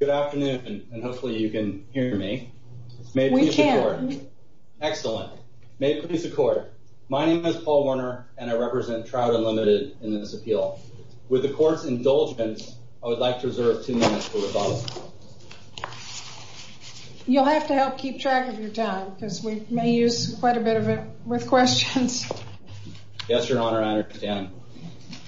Good afternoon, and hopefully you can hear me. We can. Excellent. May it please the Court. My name is Paul Warner, and I represent Trout Unlimited in this appeal. With the Court's indulgence, I would like to reserve two minutes for rebuttal. You'll have to help keep track of your time, because we may use quite a bit of it with questions. Yes, Your Honor, I understand.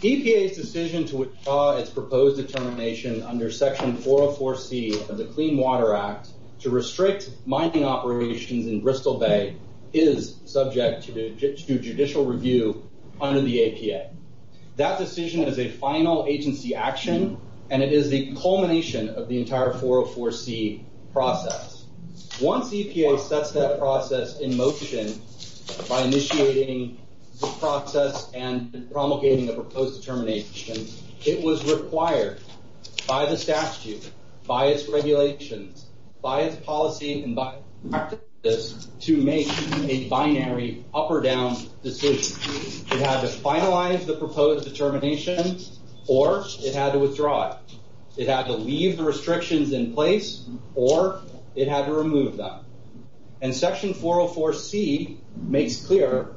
EPA's decision to withdraw its proposed determination under Section 404C of the Clean Water Act to restrict mining operations in Bristol Bay is subject to judicial review under the EPA. That decision is a final agency action, and it is the culmination of the entire 404C process. Once EPA sets that process in motion by initiating the process and promulgating the proposed determination, it was required by the statute, by its regulations, by its policy, and by its practices to make a binary up-or-down decision. It had to finalize the proposed determination, or it had to withdraw it. It had to leave the restrictions in place, or it had to remove them. And Section 404C makes clear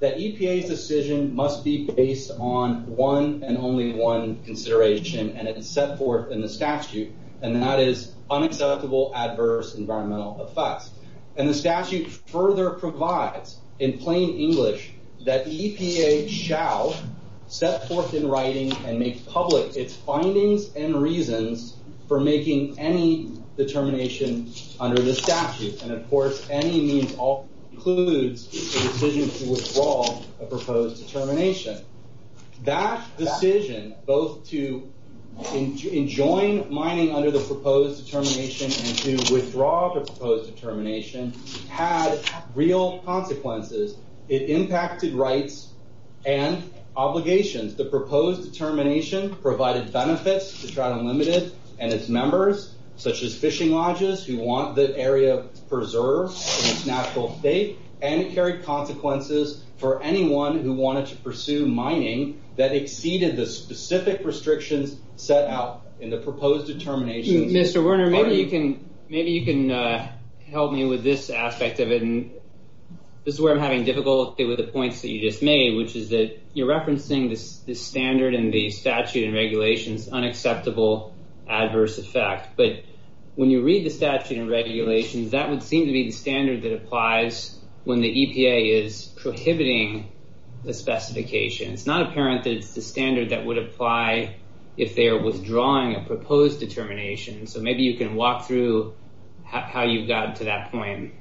that EPA's decision must be based on one and only one consideration, and it is set forth in the statute, and that is unacceptable adverse environmental effects. And the statute further provides, in plain English, that EPA shall set forth in writing and make public its findings and reasons for making any determination under the statute. And, of course, any means all includes a decision to withdraw a proposed determination. That decision, both to enjoin mining under the proposed determination and to withdraw the proposed determination, had real consequences. It impacted rights and obligations. The proposed determination provided benefits to Trout Unlimited and its members, such as fishing lodges who want the area preserved in its natural state, and it carried consequences for anyone who wanted to pursue mining that exceeded the specific restrictions set out in the proposed determination. Mr. Werner, maybe you can help me with this aspect of it. This is where I'm having difficulty with the points that you just made, which is that you're referencing the standard in the statute and regulations, unacceptable adverse effect. But when you read the statute and regulations, that would seem to be the standard that applies when the EPA is prohibiting the specification. It's not apparent that it's the standard that would apply if they are withdrawing a proposed determination. So maybe you can walk through how you got to that point.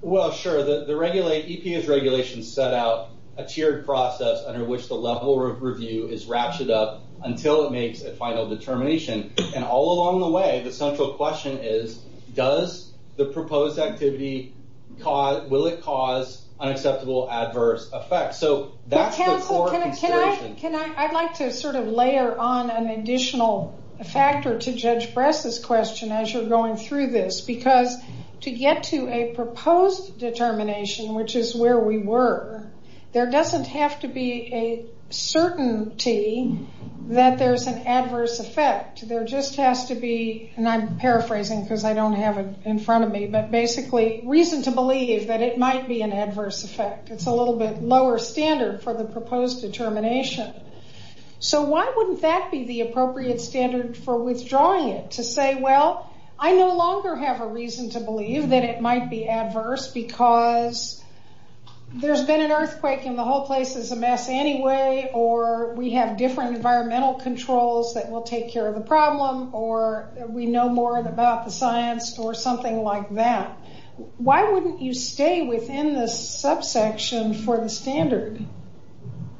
Well, sure. The EPA's regulations set out a tiered process under which the level review is ratcheted up until it makes a final determination. And all along the way, the central question is, does the proposed activity cause, will it cause unacceptable adverse effects? So that's the core consideration. I'd like to sort of layer on an additional factor to Judge Bress's question as you're going through this, because to get to a proposed determination, which is where we were, there doesn't have to be a certainty that there's an adverse effect. There just has to be, and I'm paraphrasing because I don't have it in front of me, but basically reason to believe that it might be an adverse effect. It's a little bit lower standard for the proposed determination. So why wouldn't that be the appropriate standard for withdrawing it? To say, well, I no longer have a reason to believe that it might be adverse because there's been an earthquake and the whole place is a mess anyway, or we have different environmental controls that will take care of the problem, or we know more about the science, or something like that. Why wouldn't you stay within this subsection for the standard?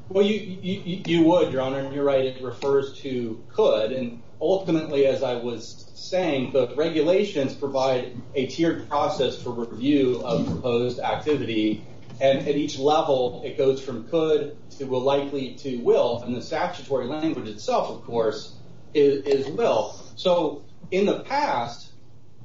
Well, you would, Your Honor, and you're right, it refers to could. And ultimately, as I was saying, the regulations provide a tiered process for review of proposed activity, and at each level it goes from could to likely to will, and the statutory language itself, of course, is will. So in the past,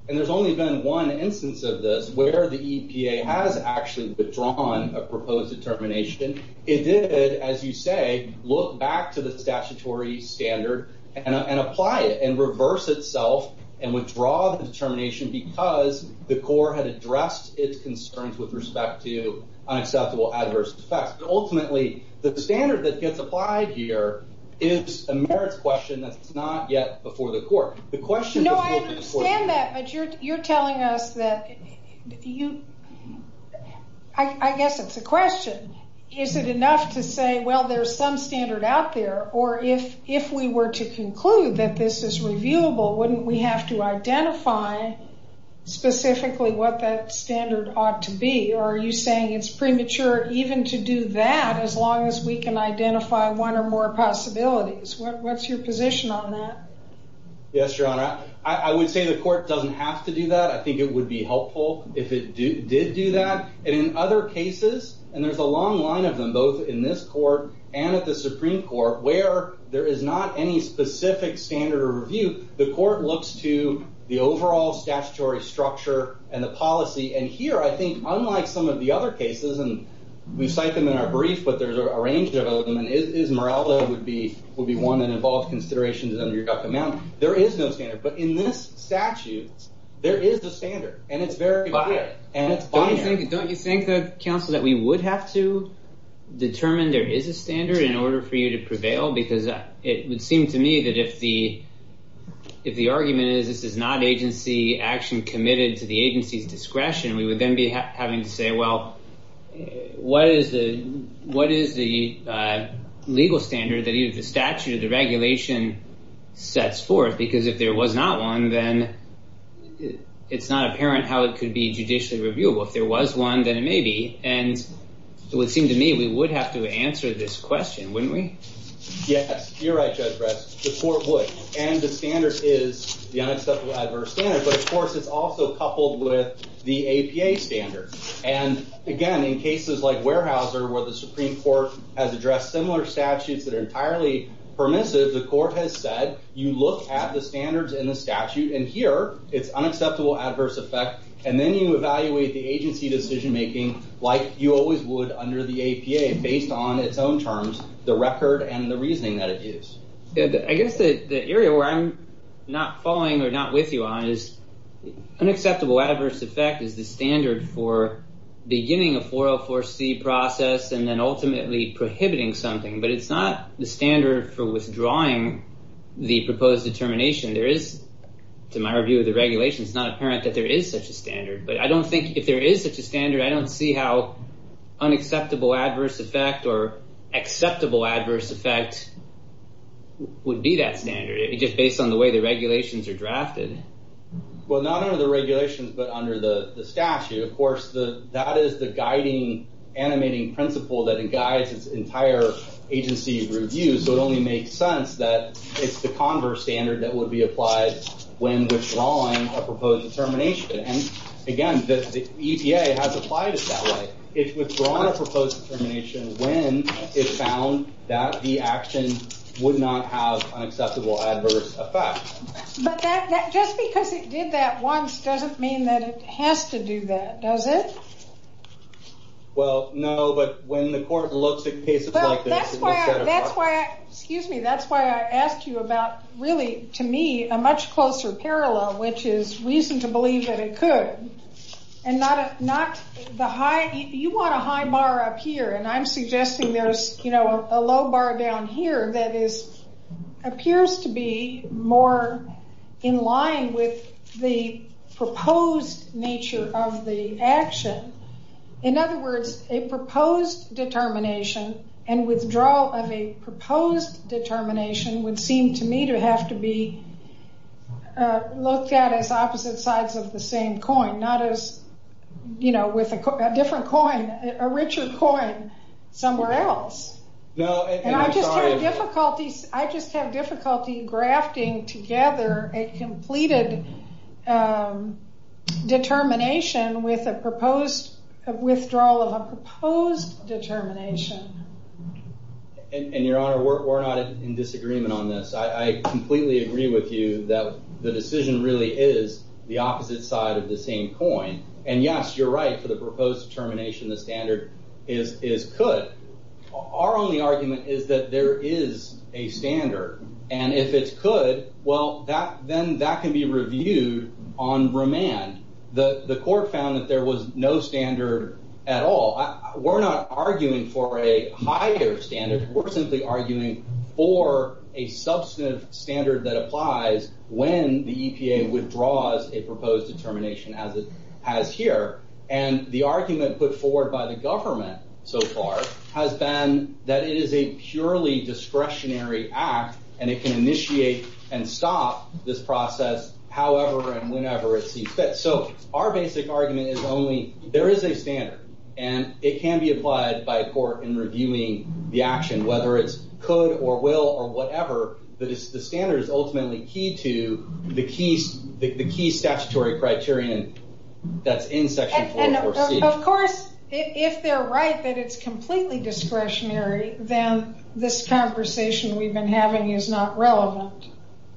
and there's only been one instance of this, where the EPA has actually withdrawn a proposed determination, it did, as you say, look back to the statutory standard and apply it and reverse itself and withdraw the determination because the court had addressed its concerns with respect to unacceptable adverse effects. But ultimately, the standard that gets applied here is a merits question that's not yet before the court. No, I understand that, but you're telling us that you... I guess it's a question. Is it enough to say, well, there's some standard out there, or if we were to conclude that this is reviewable, wouldn't we have to identify specifically what that standard ought to be? Or are you saying it's premature even to do that as long as we can identify one or more possibilities? What's your position on that? Yes, Your Honor. I would say the court doesn't have to do that. I think it would be helpful if it did do that. And in other cases, and there's a long line of them, both in this court and at the Supreme Court, where there is not any specific standard of review, the court looks to the overall statutory structure and the policy. And here, I think, unlike some of the other cases, and we cite them in our brief, but there's a range of them, and Esmeralda would be one that involves considerations under your document. There is no standard. But in this statute, there is a standard, and it's very clear. And it's binary. Don't you think, Counsel, that we would have to determine there is a standard in order for you to prevail? Because it would seem to me that if the argument is, this is not agency action committed to the agency's discretion, we would then be having to say, well, what is the legal standard that either the statute or the regulation sets forth? Because if there was not one, then it's not apparent how it could be judicially reviewable. If there was one, then it may be. And it would seem to me we would have to answer this question, wouldn't we? Yes. You're right, Judge Bress. The court would. And the standard is the unacceptable adverse standard. But, of course, it's also coupled with the APA standard. And, again, in cases like Weyerhaeuser, where the Supreme Court has addressed similar statutes that are entirely permissive, the court has said, you look at the standards in the statute, and here it's unacceptable adverse effect. And then you evaluate the agency decision-making, like you always would under the APA, based on its own terms, the record and the reasoning that it is. I guess the area where I'm not following or not with you on this is unacceptable adverse effect is the standard for beginning a 404C process and then ultimately prohibiting something. But it's not the standard for withdrawing the proposed determination. There is, to my review of the regulation, it's not apparent that there is such a standard. But I don't think if there is such a standard, I don't see how unacceptable adverse effect or acceptable adverse effect would be that standard, just based on the way the regulations are drafted. Well, not under the regulations, but under the statute. Of course, that is the guiding animating principle that guides its entire agency review. So it only makes sense that it's the converse standard that would be applied when withdrawing a proposed determination. And, again, the EPA has applied it that way. It's withdrawn a proposed determination when it found that the action would not have an acceptable adverse effect. But just because it did that once doesn't mean that it has to do that, does it? Well, no, but when the court looks at cases like this... That's why I asked you about, really, to me, a much closer parallel, which is reason to believe that it could. You want a high bar up here, and I'm suggesting there's a low bar down here that appears to be more in line with the proposed nature of the action. In other words, a proposed determination and withdrawal of a proposed determination would seem to me to have to be looked at as opposite sides of the same coin, with a different coin, a richer coin somewhere else. And I just have difficulty grafting together a completed determination with a withdrawal of a proposed determination. And, Your Honor, we're not in disagreement on this. I completely agree with you that the decision really is the opposite side of the same coin. And, yes, you're right. For the proposed determination, the standard is could. Our only argument is that there is a standard. And if it's could, well, then that can be reviewed on remand. The court found that there was no standard at all. We're not arguing for a higher standard. We're simply arguing for a substantive standard that applies when the EPA withdraws a proposed determination as it has here. And the argument put forward by the government so far has been that it is a purely discretionary act and it can initiate and stop this process however and whenever it sees fit. So our basic argument is only there is a standard, and it can be applied by a court in reviewing the action, whether it's could or will or whatever. The standard is ultimately key to the key statutory criterion that's in Section 44C. And, of course, if they're right that it's completely discretionary, then this conversation we've been having is not relevant.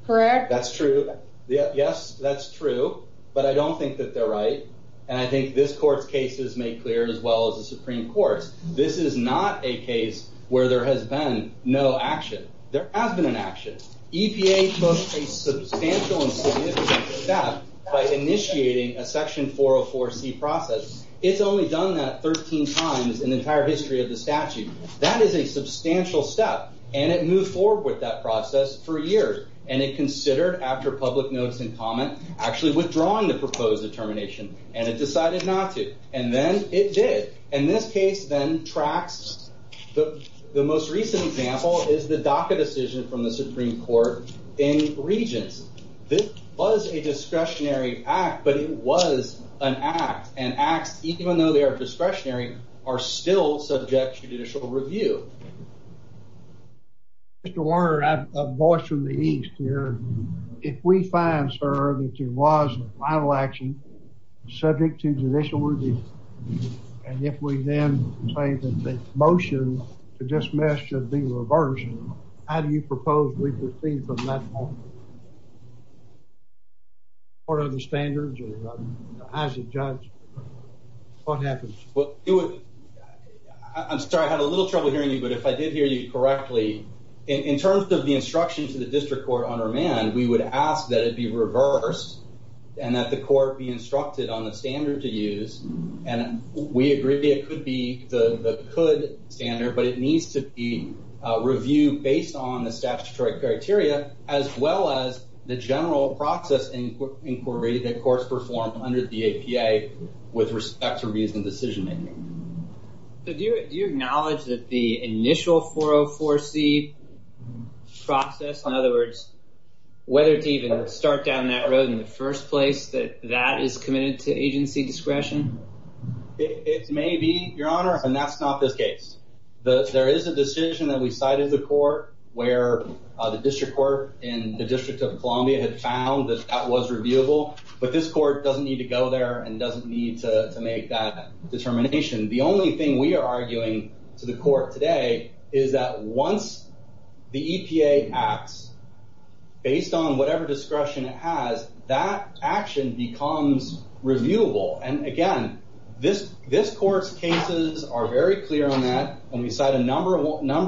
Correct? That's true. Yes, that's true. But I don't think that they're right. And I think this Court's case is made clear as well as the Supreme Court's. This is not a case where there has been no action. There has been an action. EPA took a substantial and significant step by initiating a Section 404C process. It's only done that 13 times in the entire history of the statute. That is a substantial step, and it moved forward with that process for years. And it considered, after public notice and comment, actually withdrawing the proposed determination, and it decided not to. And then it did. And this case then tracks. The most recent example is the DACA decision from the Supreme Court in Regents. This was a discretionary act, but it was an act. And acts, even though they are discretionary, are still subject to judicial review. Mr. Warner, I'm a boss from the East here. If we find, sir, that there was a final action subject to judicial review, and if we then say that the motion to dismiss should be reversed, how do you propose we proceed from that point? What are the standards? As a judge, what happens? I'm sorry, I had a little trouble hearing you, but if I did hear you correctly, in terms of the instruction to the district court on remand, we would ask that it be reversed and that the court be instructed on the standard to use and we agree it could be the could standard, but it needs to be reviewed based on the statutory criteria as well as the general process inquiry that courts perform under the APA with respect to reviews and decision making. Do you acknowledge that the initial 404C process, in other words, whether to even start down that road in the first place, that that is committed to agency discretion? It may be, Your Honor, and that's not this case. There is a decision that we cited in the court where the district court in the District of Columbia had found that that was reviewable, but this court doesn't need to go there and doesn't need to make that determination. The only thing we are arguing to the court today is that once the EPA acts, based on whatever discretion it has, that action becomes reviewable. And again, this court's cases are very clear on that and we cite a number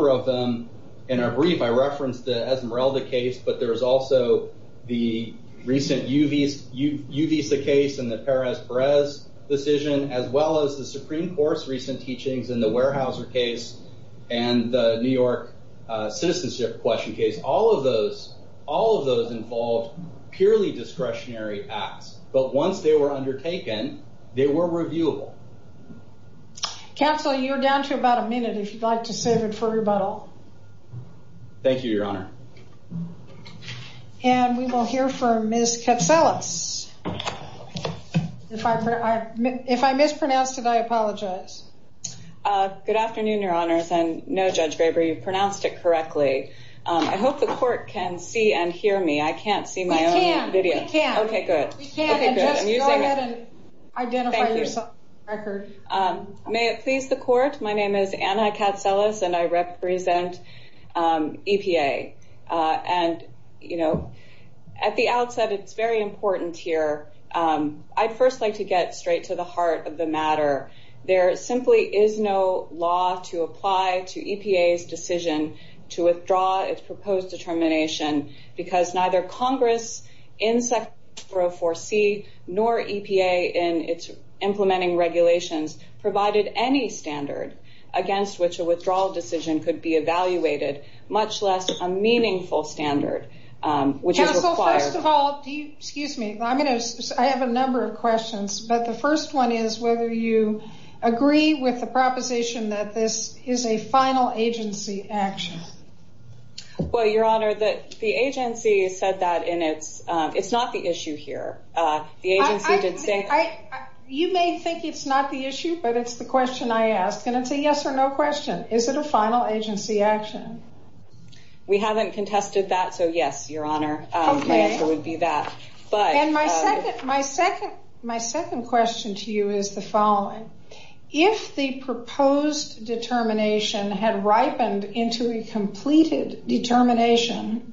of them in our brief. I referenced the Esmeralda case, but there is also the recent Uvisa case and the Perez-Perez decision as well as the Supreme Court's recent teachings in the Weyerhaeuser case and the New York citizenship question case. All of those involved purely discretionary acts, but once they were undertaken, they were reviewable. Counsel, you're down to about a minute if you'd like to save it for rebuttal. Thank you, Your Honor. And we will hear from Ms. Katselas. If I mispronounced it, I apologize. Good afternoon, Your Honors, and no, Judge Graber, you pronounced it correctly. I hope the court can see and hear me. I can't see my own video. We can. We can. Okay, good. Go ahead and identify yourself. May it please the court? My name is Anna Katselas and I represent EPA. And, you know, at the outset, it's very important here. I'd first like to get straight to the heart of the matter. There simply is no law to apply to EPA's decision to withdraw its proposed determination because neither Congress in Section 404C nor EPA in its implementing regulations provided any standard against which a withdrawal decision could be evaluated, much less a meaningful standard, which is required. Counsel, first of all, do you excuse me? I have a number of questions, but the first one is whether you agree with the proposition that this is a final agency action. Well, Your Honor, the agency said that, and it's not the issue here. You may think it's not the issue, but it's the question I ask, and it's a yes or no question. Is it a final agency action? We haven't contested that, so yes, Your Honor, And my second question to you is the following. If the proposed determination had ripened into a completed determination,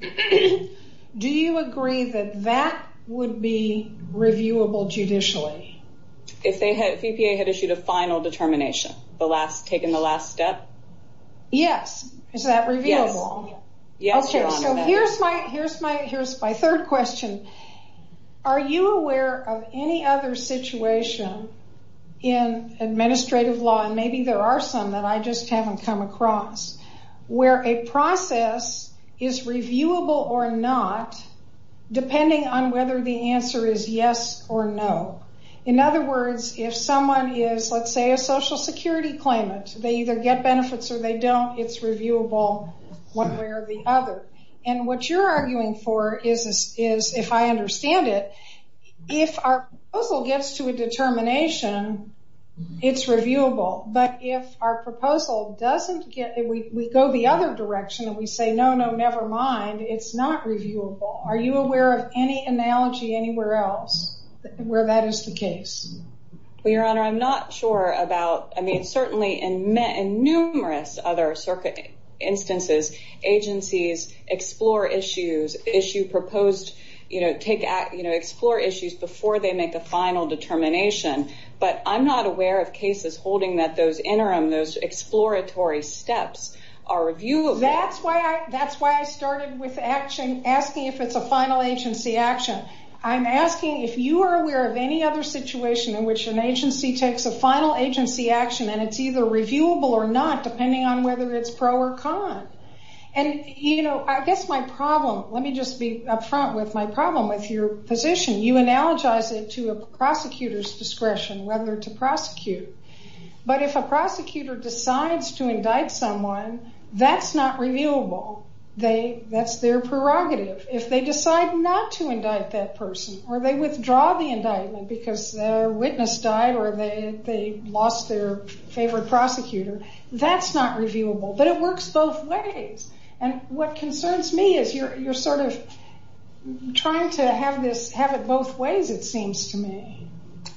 do you agree that that would be reviewable judicially? If EPA had issued a final determination, taken the last step? Yes. Is that reviewable? Yes, Your Honor. Okay, so here's my third question. Are you aware of any other situation in administrative law, and maybe there are some that I just haven't come across, where a process is reviewable or not, depending on whether the answer is yes or no? In other words, if someone is, let's say, a Social Security claimant, they either get benefits or they don't, it's reviewable one way or the other. And what you're arguing for is, if I understand it, if our proposal gets to a determination, it's reviewable. But if our proposal doesn't get it, we go the other direction and we say, no, no, never mind, it's not reviewable. Are you aware of any analogy anywhere else where that is the case? Well, Your Honor, I'm not sure about, I mean, certainly in numerous other circuit instances, agencies explore issues, issue proposed, explore issues before they make a final determination. But I'm not aware of cases holding that those interim, those exploratory steps are reviewable. That's why I started with asking if it's a final agency action. I'm asking if you are aware of any other situation in which an agency takes a final agency action and it's either reviewable or not, depending on whether it's pro or con. And, you know, I guess my problem, let me just be upfront with my problem with your position. You analogize it to a prosecutor's discretion, whether to prosecute. But if a prosecutor decides to indict someone, that's not reviewable. That's their prerogative. If they decide not to indict that person or they withdraw the indictment because their witness died or they lost their favorite prosecutor, that's not reviewable. But it works both ways. And what concerns me is you're sort of trying to have this, have it both ways, it seems to me.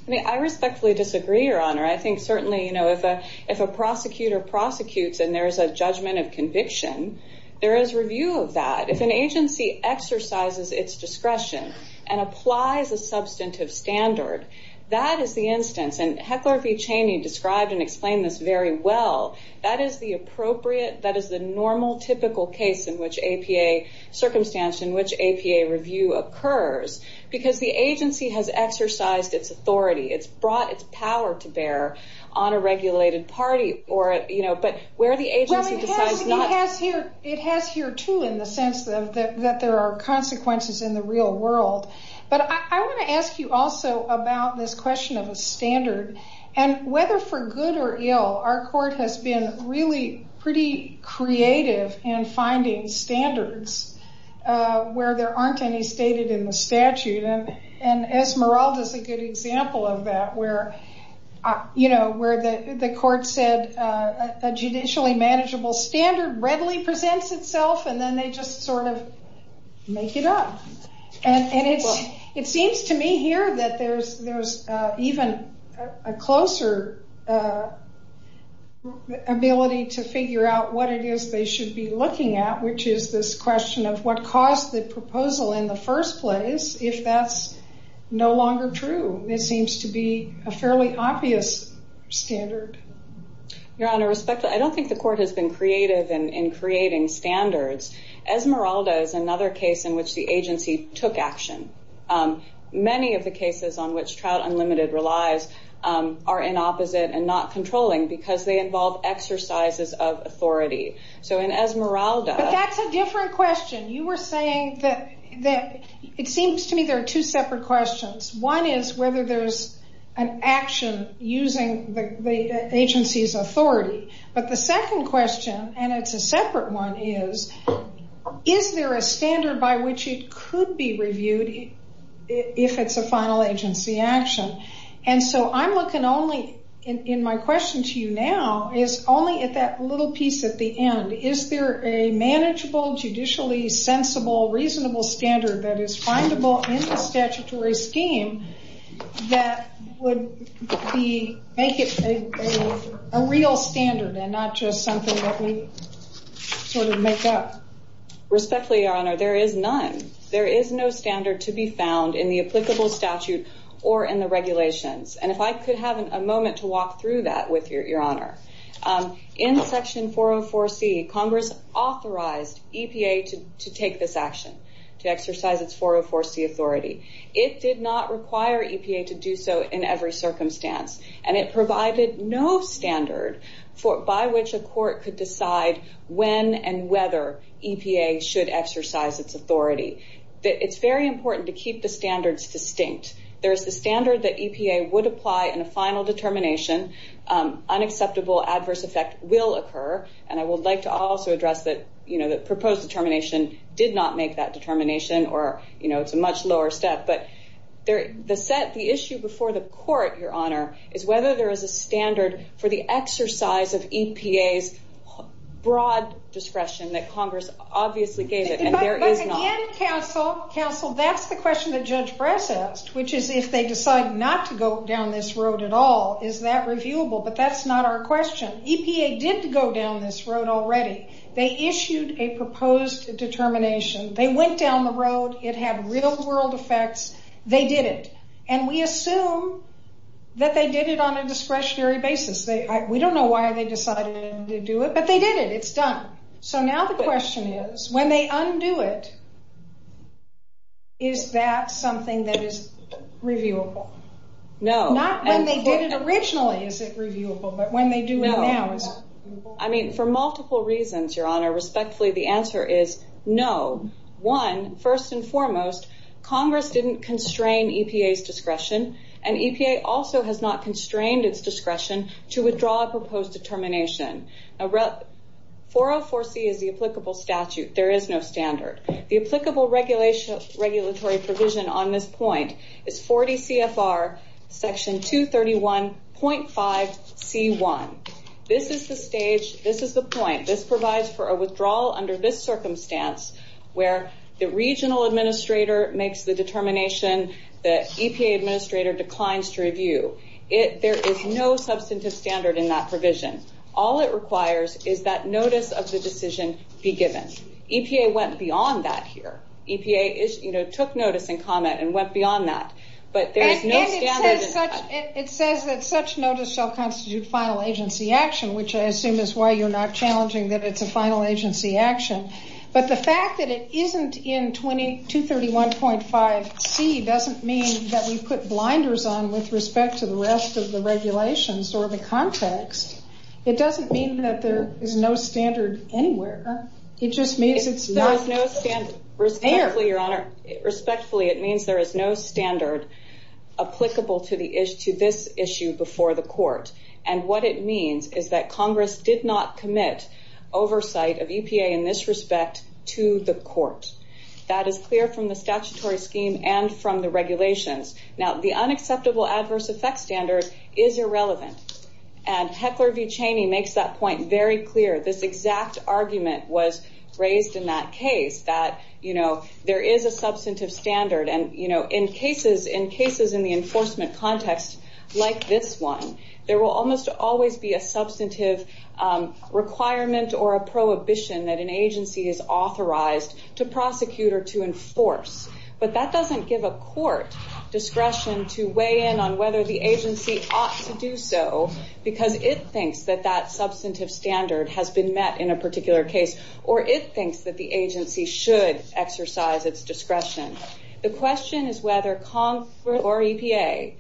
I respectfully disagree, Your Honor. I think certainly, you know, if a prosecutor prosecutes and there is a judgment of conviction, there is review of that. If an agency exercises its discretion and applies a substantive standard, that is the instance, and Heckler v. Cheney described and explained this very well, that is the appropriate, that is the normal typical case in which APA, circumstance in which APA review occurs because the agency has exercised its authority. It's brought its power to bear on a regulated party or, you know, but where the agency decides not to... Well, it has here too in the sense that there are consequences in the real world. But I want to ask you also about this question of a standard and whether for good or ill, our court has been really pretty creative in finding standards where there aren't any stated in the statute. And Esmeralda is a good example of that where, you know, where the court said a judicially manageable standard readily presents itself and then they just sort of make it up. And it seems to me here that there's even a closer ability to figure out what it is they should be looking at, which is this question of what caused the proposal in the first place, if that's no longer true. It seems to be a fairly obvious standard. Your Honor, I don't think the court has been creative in creating standards. Esmeralda is another case in which the agency took action. Many of the cases on which Trout Unlimited relies are in opposite and not controlling because they involve exercises of authority. So in Esmeralda... But that's a different question. You were saying that... It seems to me there are two separate questions. One is whether there's an action using the agency's authority. But the second question, and it's a separate one, is is there a standard by which it could be reviewed if it's a final agency action? And so I'm looking only, in my question to you now, is only at that little piece at the end. Is there a manageable, judicially sensible, reasonable standard that is findable in the statutory scheme that would make it a real standard and not just something that we sort of make up? Respectfully, Your Honor, there is none. There is no standard to be found in the applicable statute or in the regulations. And if I could have a moment to walk through that with Your Honor. In Section 404C, Congress authorized EPA to take this action, to exercise its 404C authority. It did not require EPA to do so in every circumstance. And it provided no standard by which a court could decide when and whether EPA should exercise its authority. It's very important to keep the standards distinct. There's the standard that EPA would apply in a final determination. Unacceptable adverse effect will occur. And I would like to also address that the proposed determination did not make that determination, or it's a much lower step. But the issue before the court, Your Honor, is whether there is a standard for the exercise of EPA's broad discretion that Congress obviously gave it, and there is not. But again, counsel, that's the question that Judge Bress asked, which is if they decide not to go down this road at all, is that reviewable? But that's not our question. EPA did go down this road already. They issued a proposed determination. They went down the road. It had real-world effects. They did it. And we assume that they did it on a discretionary basis. We don't know why they decided to do it, but they did it. It's done. So now the question is, when they undo it, is that something that is reviewable? No. Not when they did it originally is it reviewable, but when they do it now. I mean, for multiple reasons, Your Honor. Respectfully, the answer is no. One, first and foremost, Congress didn't constrain EPA's discretion, and EPA also has not constrained its discretion to withdraw a proposed determination. 404C is the applicable statute. There is no standard. The applicable regulatory provision on this point is 40 CFR Section 231.5C1. This is the stage, this is the point. This provides for a withdrawal under this circumstance, where the regional administrator makes the determination, the EPA administrator declines to review. There is no substantive standard in that provision. All it requires is that notice of the decision be given. EPA went beyond that here. EPA took notice and comment and went beyond that. It says that such notice shall constitute final agency action, which I assume is why you're not challenging that it's a final agency action. But the fact that it isn't in 231.5C doesn't mean that we put blinders on with respect to the rest of the regulations or the context. It doesn't mean that there is no standard anywhere. It just means it's not there. Respectfully, Your Honor, it means there is no standard applicable to this issue before the court. And what it means is that Congress did not commit oversight of EPA in this respect to the court. That is clear from the statutory scheme and from the regulations. Now, the unacceptable adverse effect standard is irrelevant. And Heckler v. Cheney makes that point very clear. This exact argument was raised in that case, that there is a substantive standard. And in cases in the enforcement context like this one, there will almost always be a substantive requirement or a prohibition that an agency is authorized to prosecute or to enforce. But that doesn't give a court discretion to weigh in on whether the agency ought to do so because it thinks that that substantive standard has been met in a particular case or it thinks that the agency should exercise its discretion. The question is whether Congress or EPA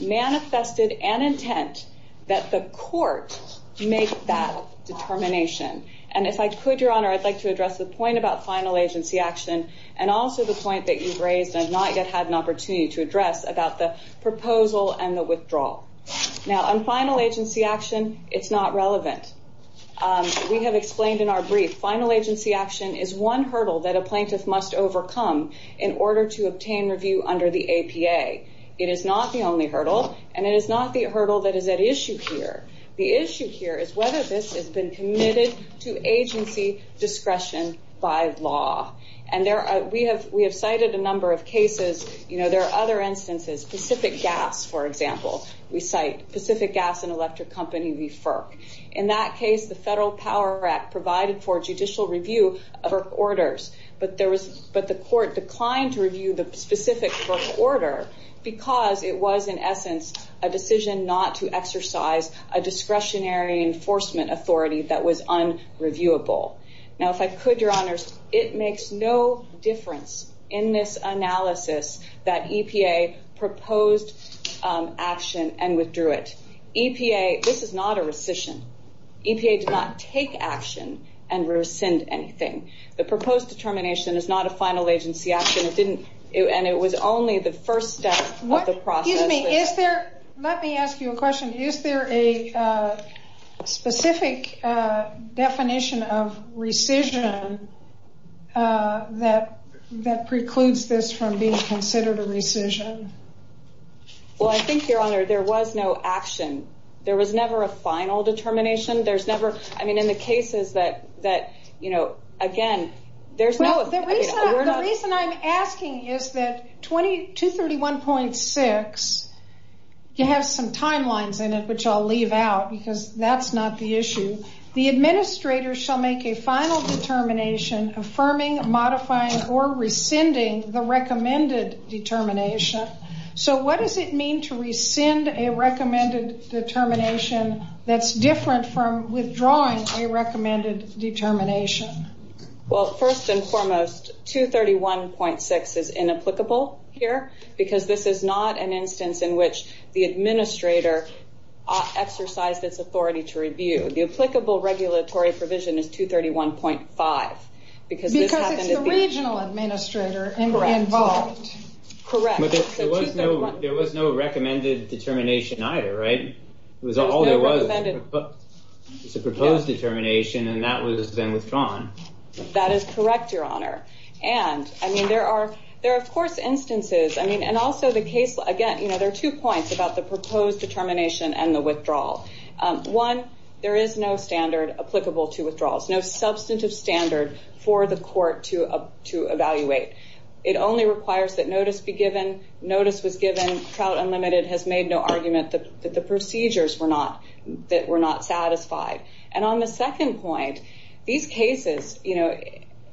manifested an intent that the court make that determination. And if I could, Your Honor, I'd like to address the point about final agency action and also the point that you've raised and I've not yet had an opportunity to address about the proposal and the withdrawal. Now, on final agency action, it's not relevant. We have explained in our brief, final agency action is one hurdle that a plaintiff must overcome in order to obtain review under the APA. It is not the only hurdle, and it is not the hurdle that is at issue here. The issue here is whether this has been committed to agency discretion by law. We have cited a number of cases. There are other instances, Pacific Gas, for example. We cite Pacific Gas and Electric Company v. FERC. In that case, the Federal Power Act provided for judicial review of FERC orders, but the court declined to review the specific FERC order because it was, in essence, a decision not to exercise a discretionary enforcement authority that was unreviewable. Now, if I could, Your Honors, it makes no difference in this analysis that EPA proposed action and withdrew it. This is not a rescission. EPA did not take action and rescind anything. The proposed determination is not a final agency action, and it was only the first step of the process. Excuse me. Let me ask you a question. Is there a specific definition of rescission that precludes this from being considered a rescission? Well, I think, Your Honor, there was no action. There was never a final determination. There's never... I mean, in the cases that, you know, again, there's no... The reason I'm asking is that 231.6, you have some timelines in it, which I'll leave out, because that's not the issue. The administrator shall make a final determination affirming, modifying, or rescinding the recommended determination. So what does it mean to rescind a recommended determination that's different from withdrawing a recommended determination? Well, first and foremost, 231.6 is inapplicable here because this is not an instance in which the administrator exercised its authority to review. The applicable regulatory provision is 231.5 because this happened at the... Because it's the regional administrator involved. Correct. But there was no recommended determination either, right? It was all there was. It's a proposed determination, and that was then withdrawn. That is correct, Your Honor. And, I mean, there are, of course, instances... I mean, and also the case... Again, you know, there are two points about the proposed determination and the withdrawal. One, there is no standard applicable to withdrawals, no substantive standard for the court to evaluate. It only requires that notice be given. Notice was given. Trout Unlimited has made no argument that the procedures were not satisfied. And on the second point, these cases...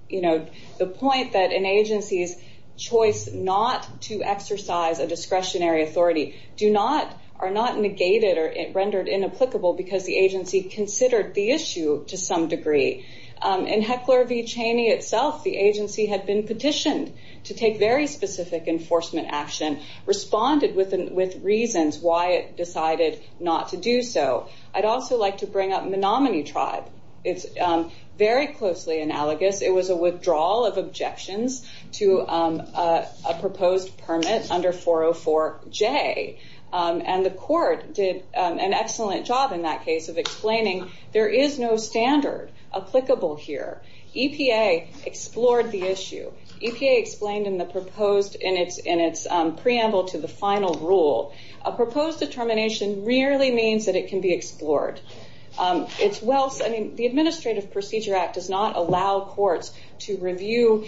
You know, the point that an agency's choice not to exercise a discretionary authority are not negated or rendered inapplicable because the agency considered the issue to some degree. In Heckler v. Cheney itself, the agency had been petitioned to take very specific enforcement action, responded with reasons why it decided not to do so. I'd also like to bring up Menominee Tribe. It's very closely analogous. It was a withdrawal of objections to a proposed permit under 404J. And the court did an excellent job in that case of explaining there is no standard applicable here. EPA explored the issue. EPA explained in its preamble to the final rule, a proposed determination merely means that it can be explored. The Administrative Procedure Act does not allow courts to review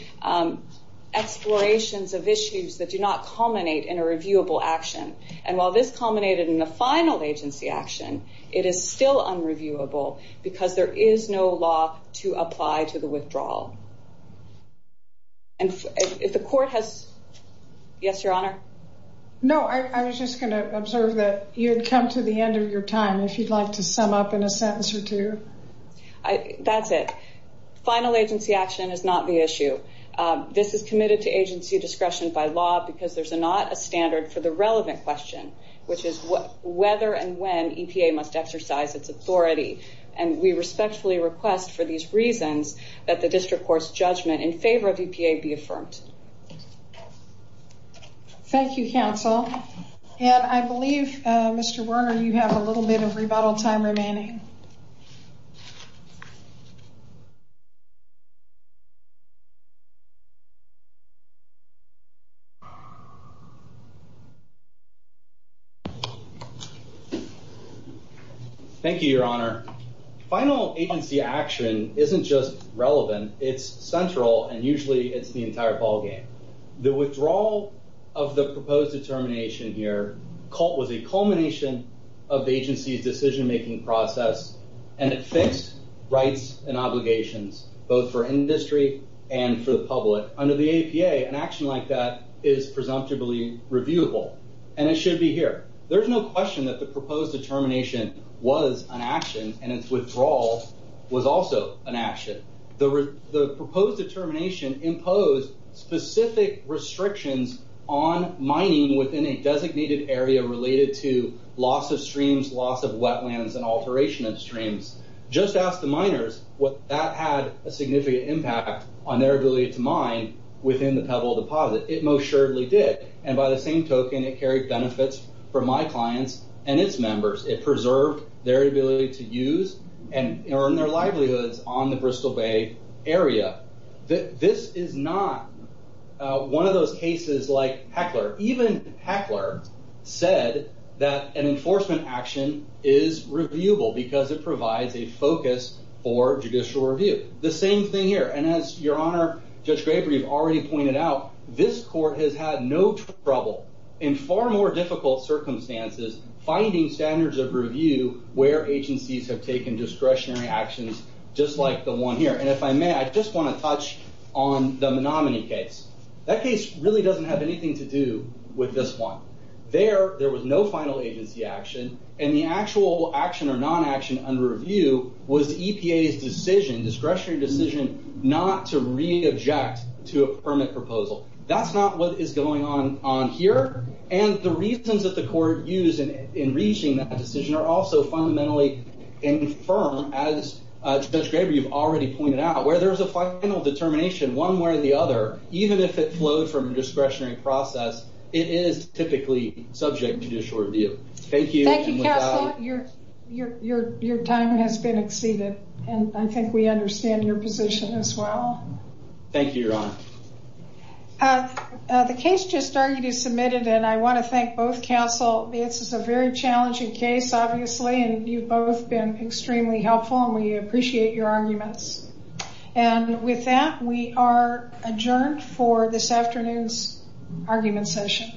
explorations of issues that do not culminate in a reviewable action. And while this culminated in the final agency action, it is still unreviewable because there is no law to apply to the withdrawal. And if the court has... Yes, Your Honor? No, I was just going to observe that you'd come to the end of your time if you'd like to sum up in a sentence or two. That's it. Final agency action is not the issue. This is committed to agency discretion by law because there's not a standard for the relevant question, which is whether and when EPA must exercise its authority. And we respectfully request for these reasons that the district court's judgment in favor of EPA be affirmed. Thank you, counsel. And I believe, Mr. Werner, you have a little bit of rebuttal time remaining. Thank you, Your Honor. Final agency action isn't just relevant. It's central, and usually it's the entire ballgame. The withdrawal of the proposed determination here was a culmination of the agency's decision-making process, and it fixed rights and obligations both for industry and for the public. Under the EPA, an action like that is presumptively reviewable, and it should be here. There's no question that the proposed determination was an action, and its withdrawal was also an action. The proposed determination imposed specific restrictions on mining within a designated area related to loss of streams, loss of wetlands, and alteration of streams. Just ask the miners if that had a significant impact on their ability to mine within the Pebble Deposit. It most surely did, and by the same token, it carried benefits for my clients and its members. It preserved their ability to use and earn their livelihoods on the Bristol Bay area. This is not one of those cases like Heckler. Even Heckler said that an enforcement action is reviewable because it provides a focus for judicial review. The same thing here, and as Your Honor, Judge Graber, you've already pointed out, this court has had no trouble in far more difficult circumstances finding standards of review where agencies have taken discretionary actions just like the one here. And if I may, I just want to touch on the Menominee case. That case really doesn't have anything to do with this one. There, there was no final agency action, and the actual action or non-action under review was EPA's discretionary decision not to re-object to a permit proposal. That's not what is going on here, and the reasons that the court used in reaching that decision are also fundamentally infirm, as Judge Graber, you've already pointed out. Where there's a final determination one way or the other, even if it flowed from a discretionary process, it is typically subject to judicial review. Thank you. Thank you, counsel. Your time has been exceeded, and I think we understand your position as well. Thank you, Your Honor. The case just argued is submitted, and I want to thank both counsel. This is a very challenging case, obviously, and you've both been extremely helpful, and we appreciate your arguments. And with that, we are adjourned for this afternoon's argument session.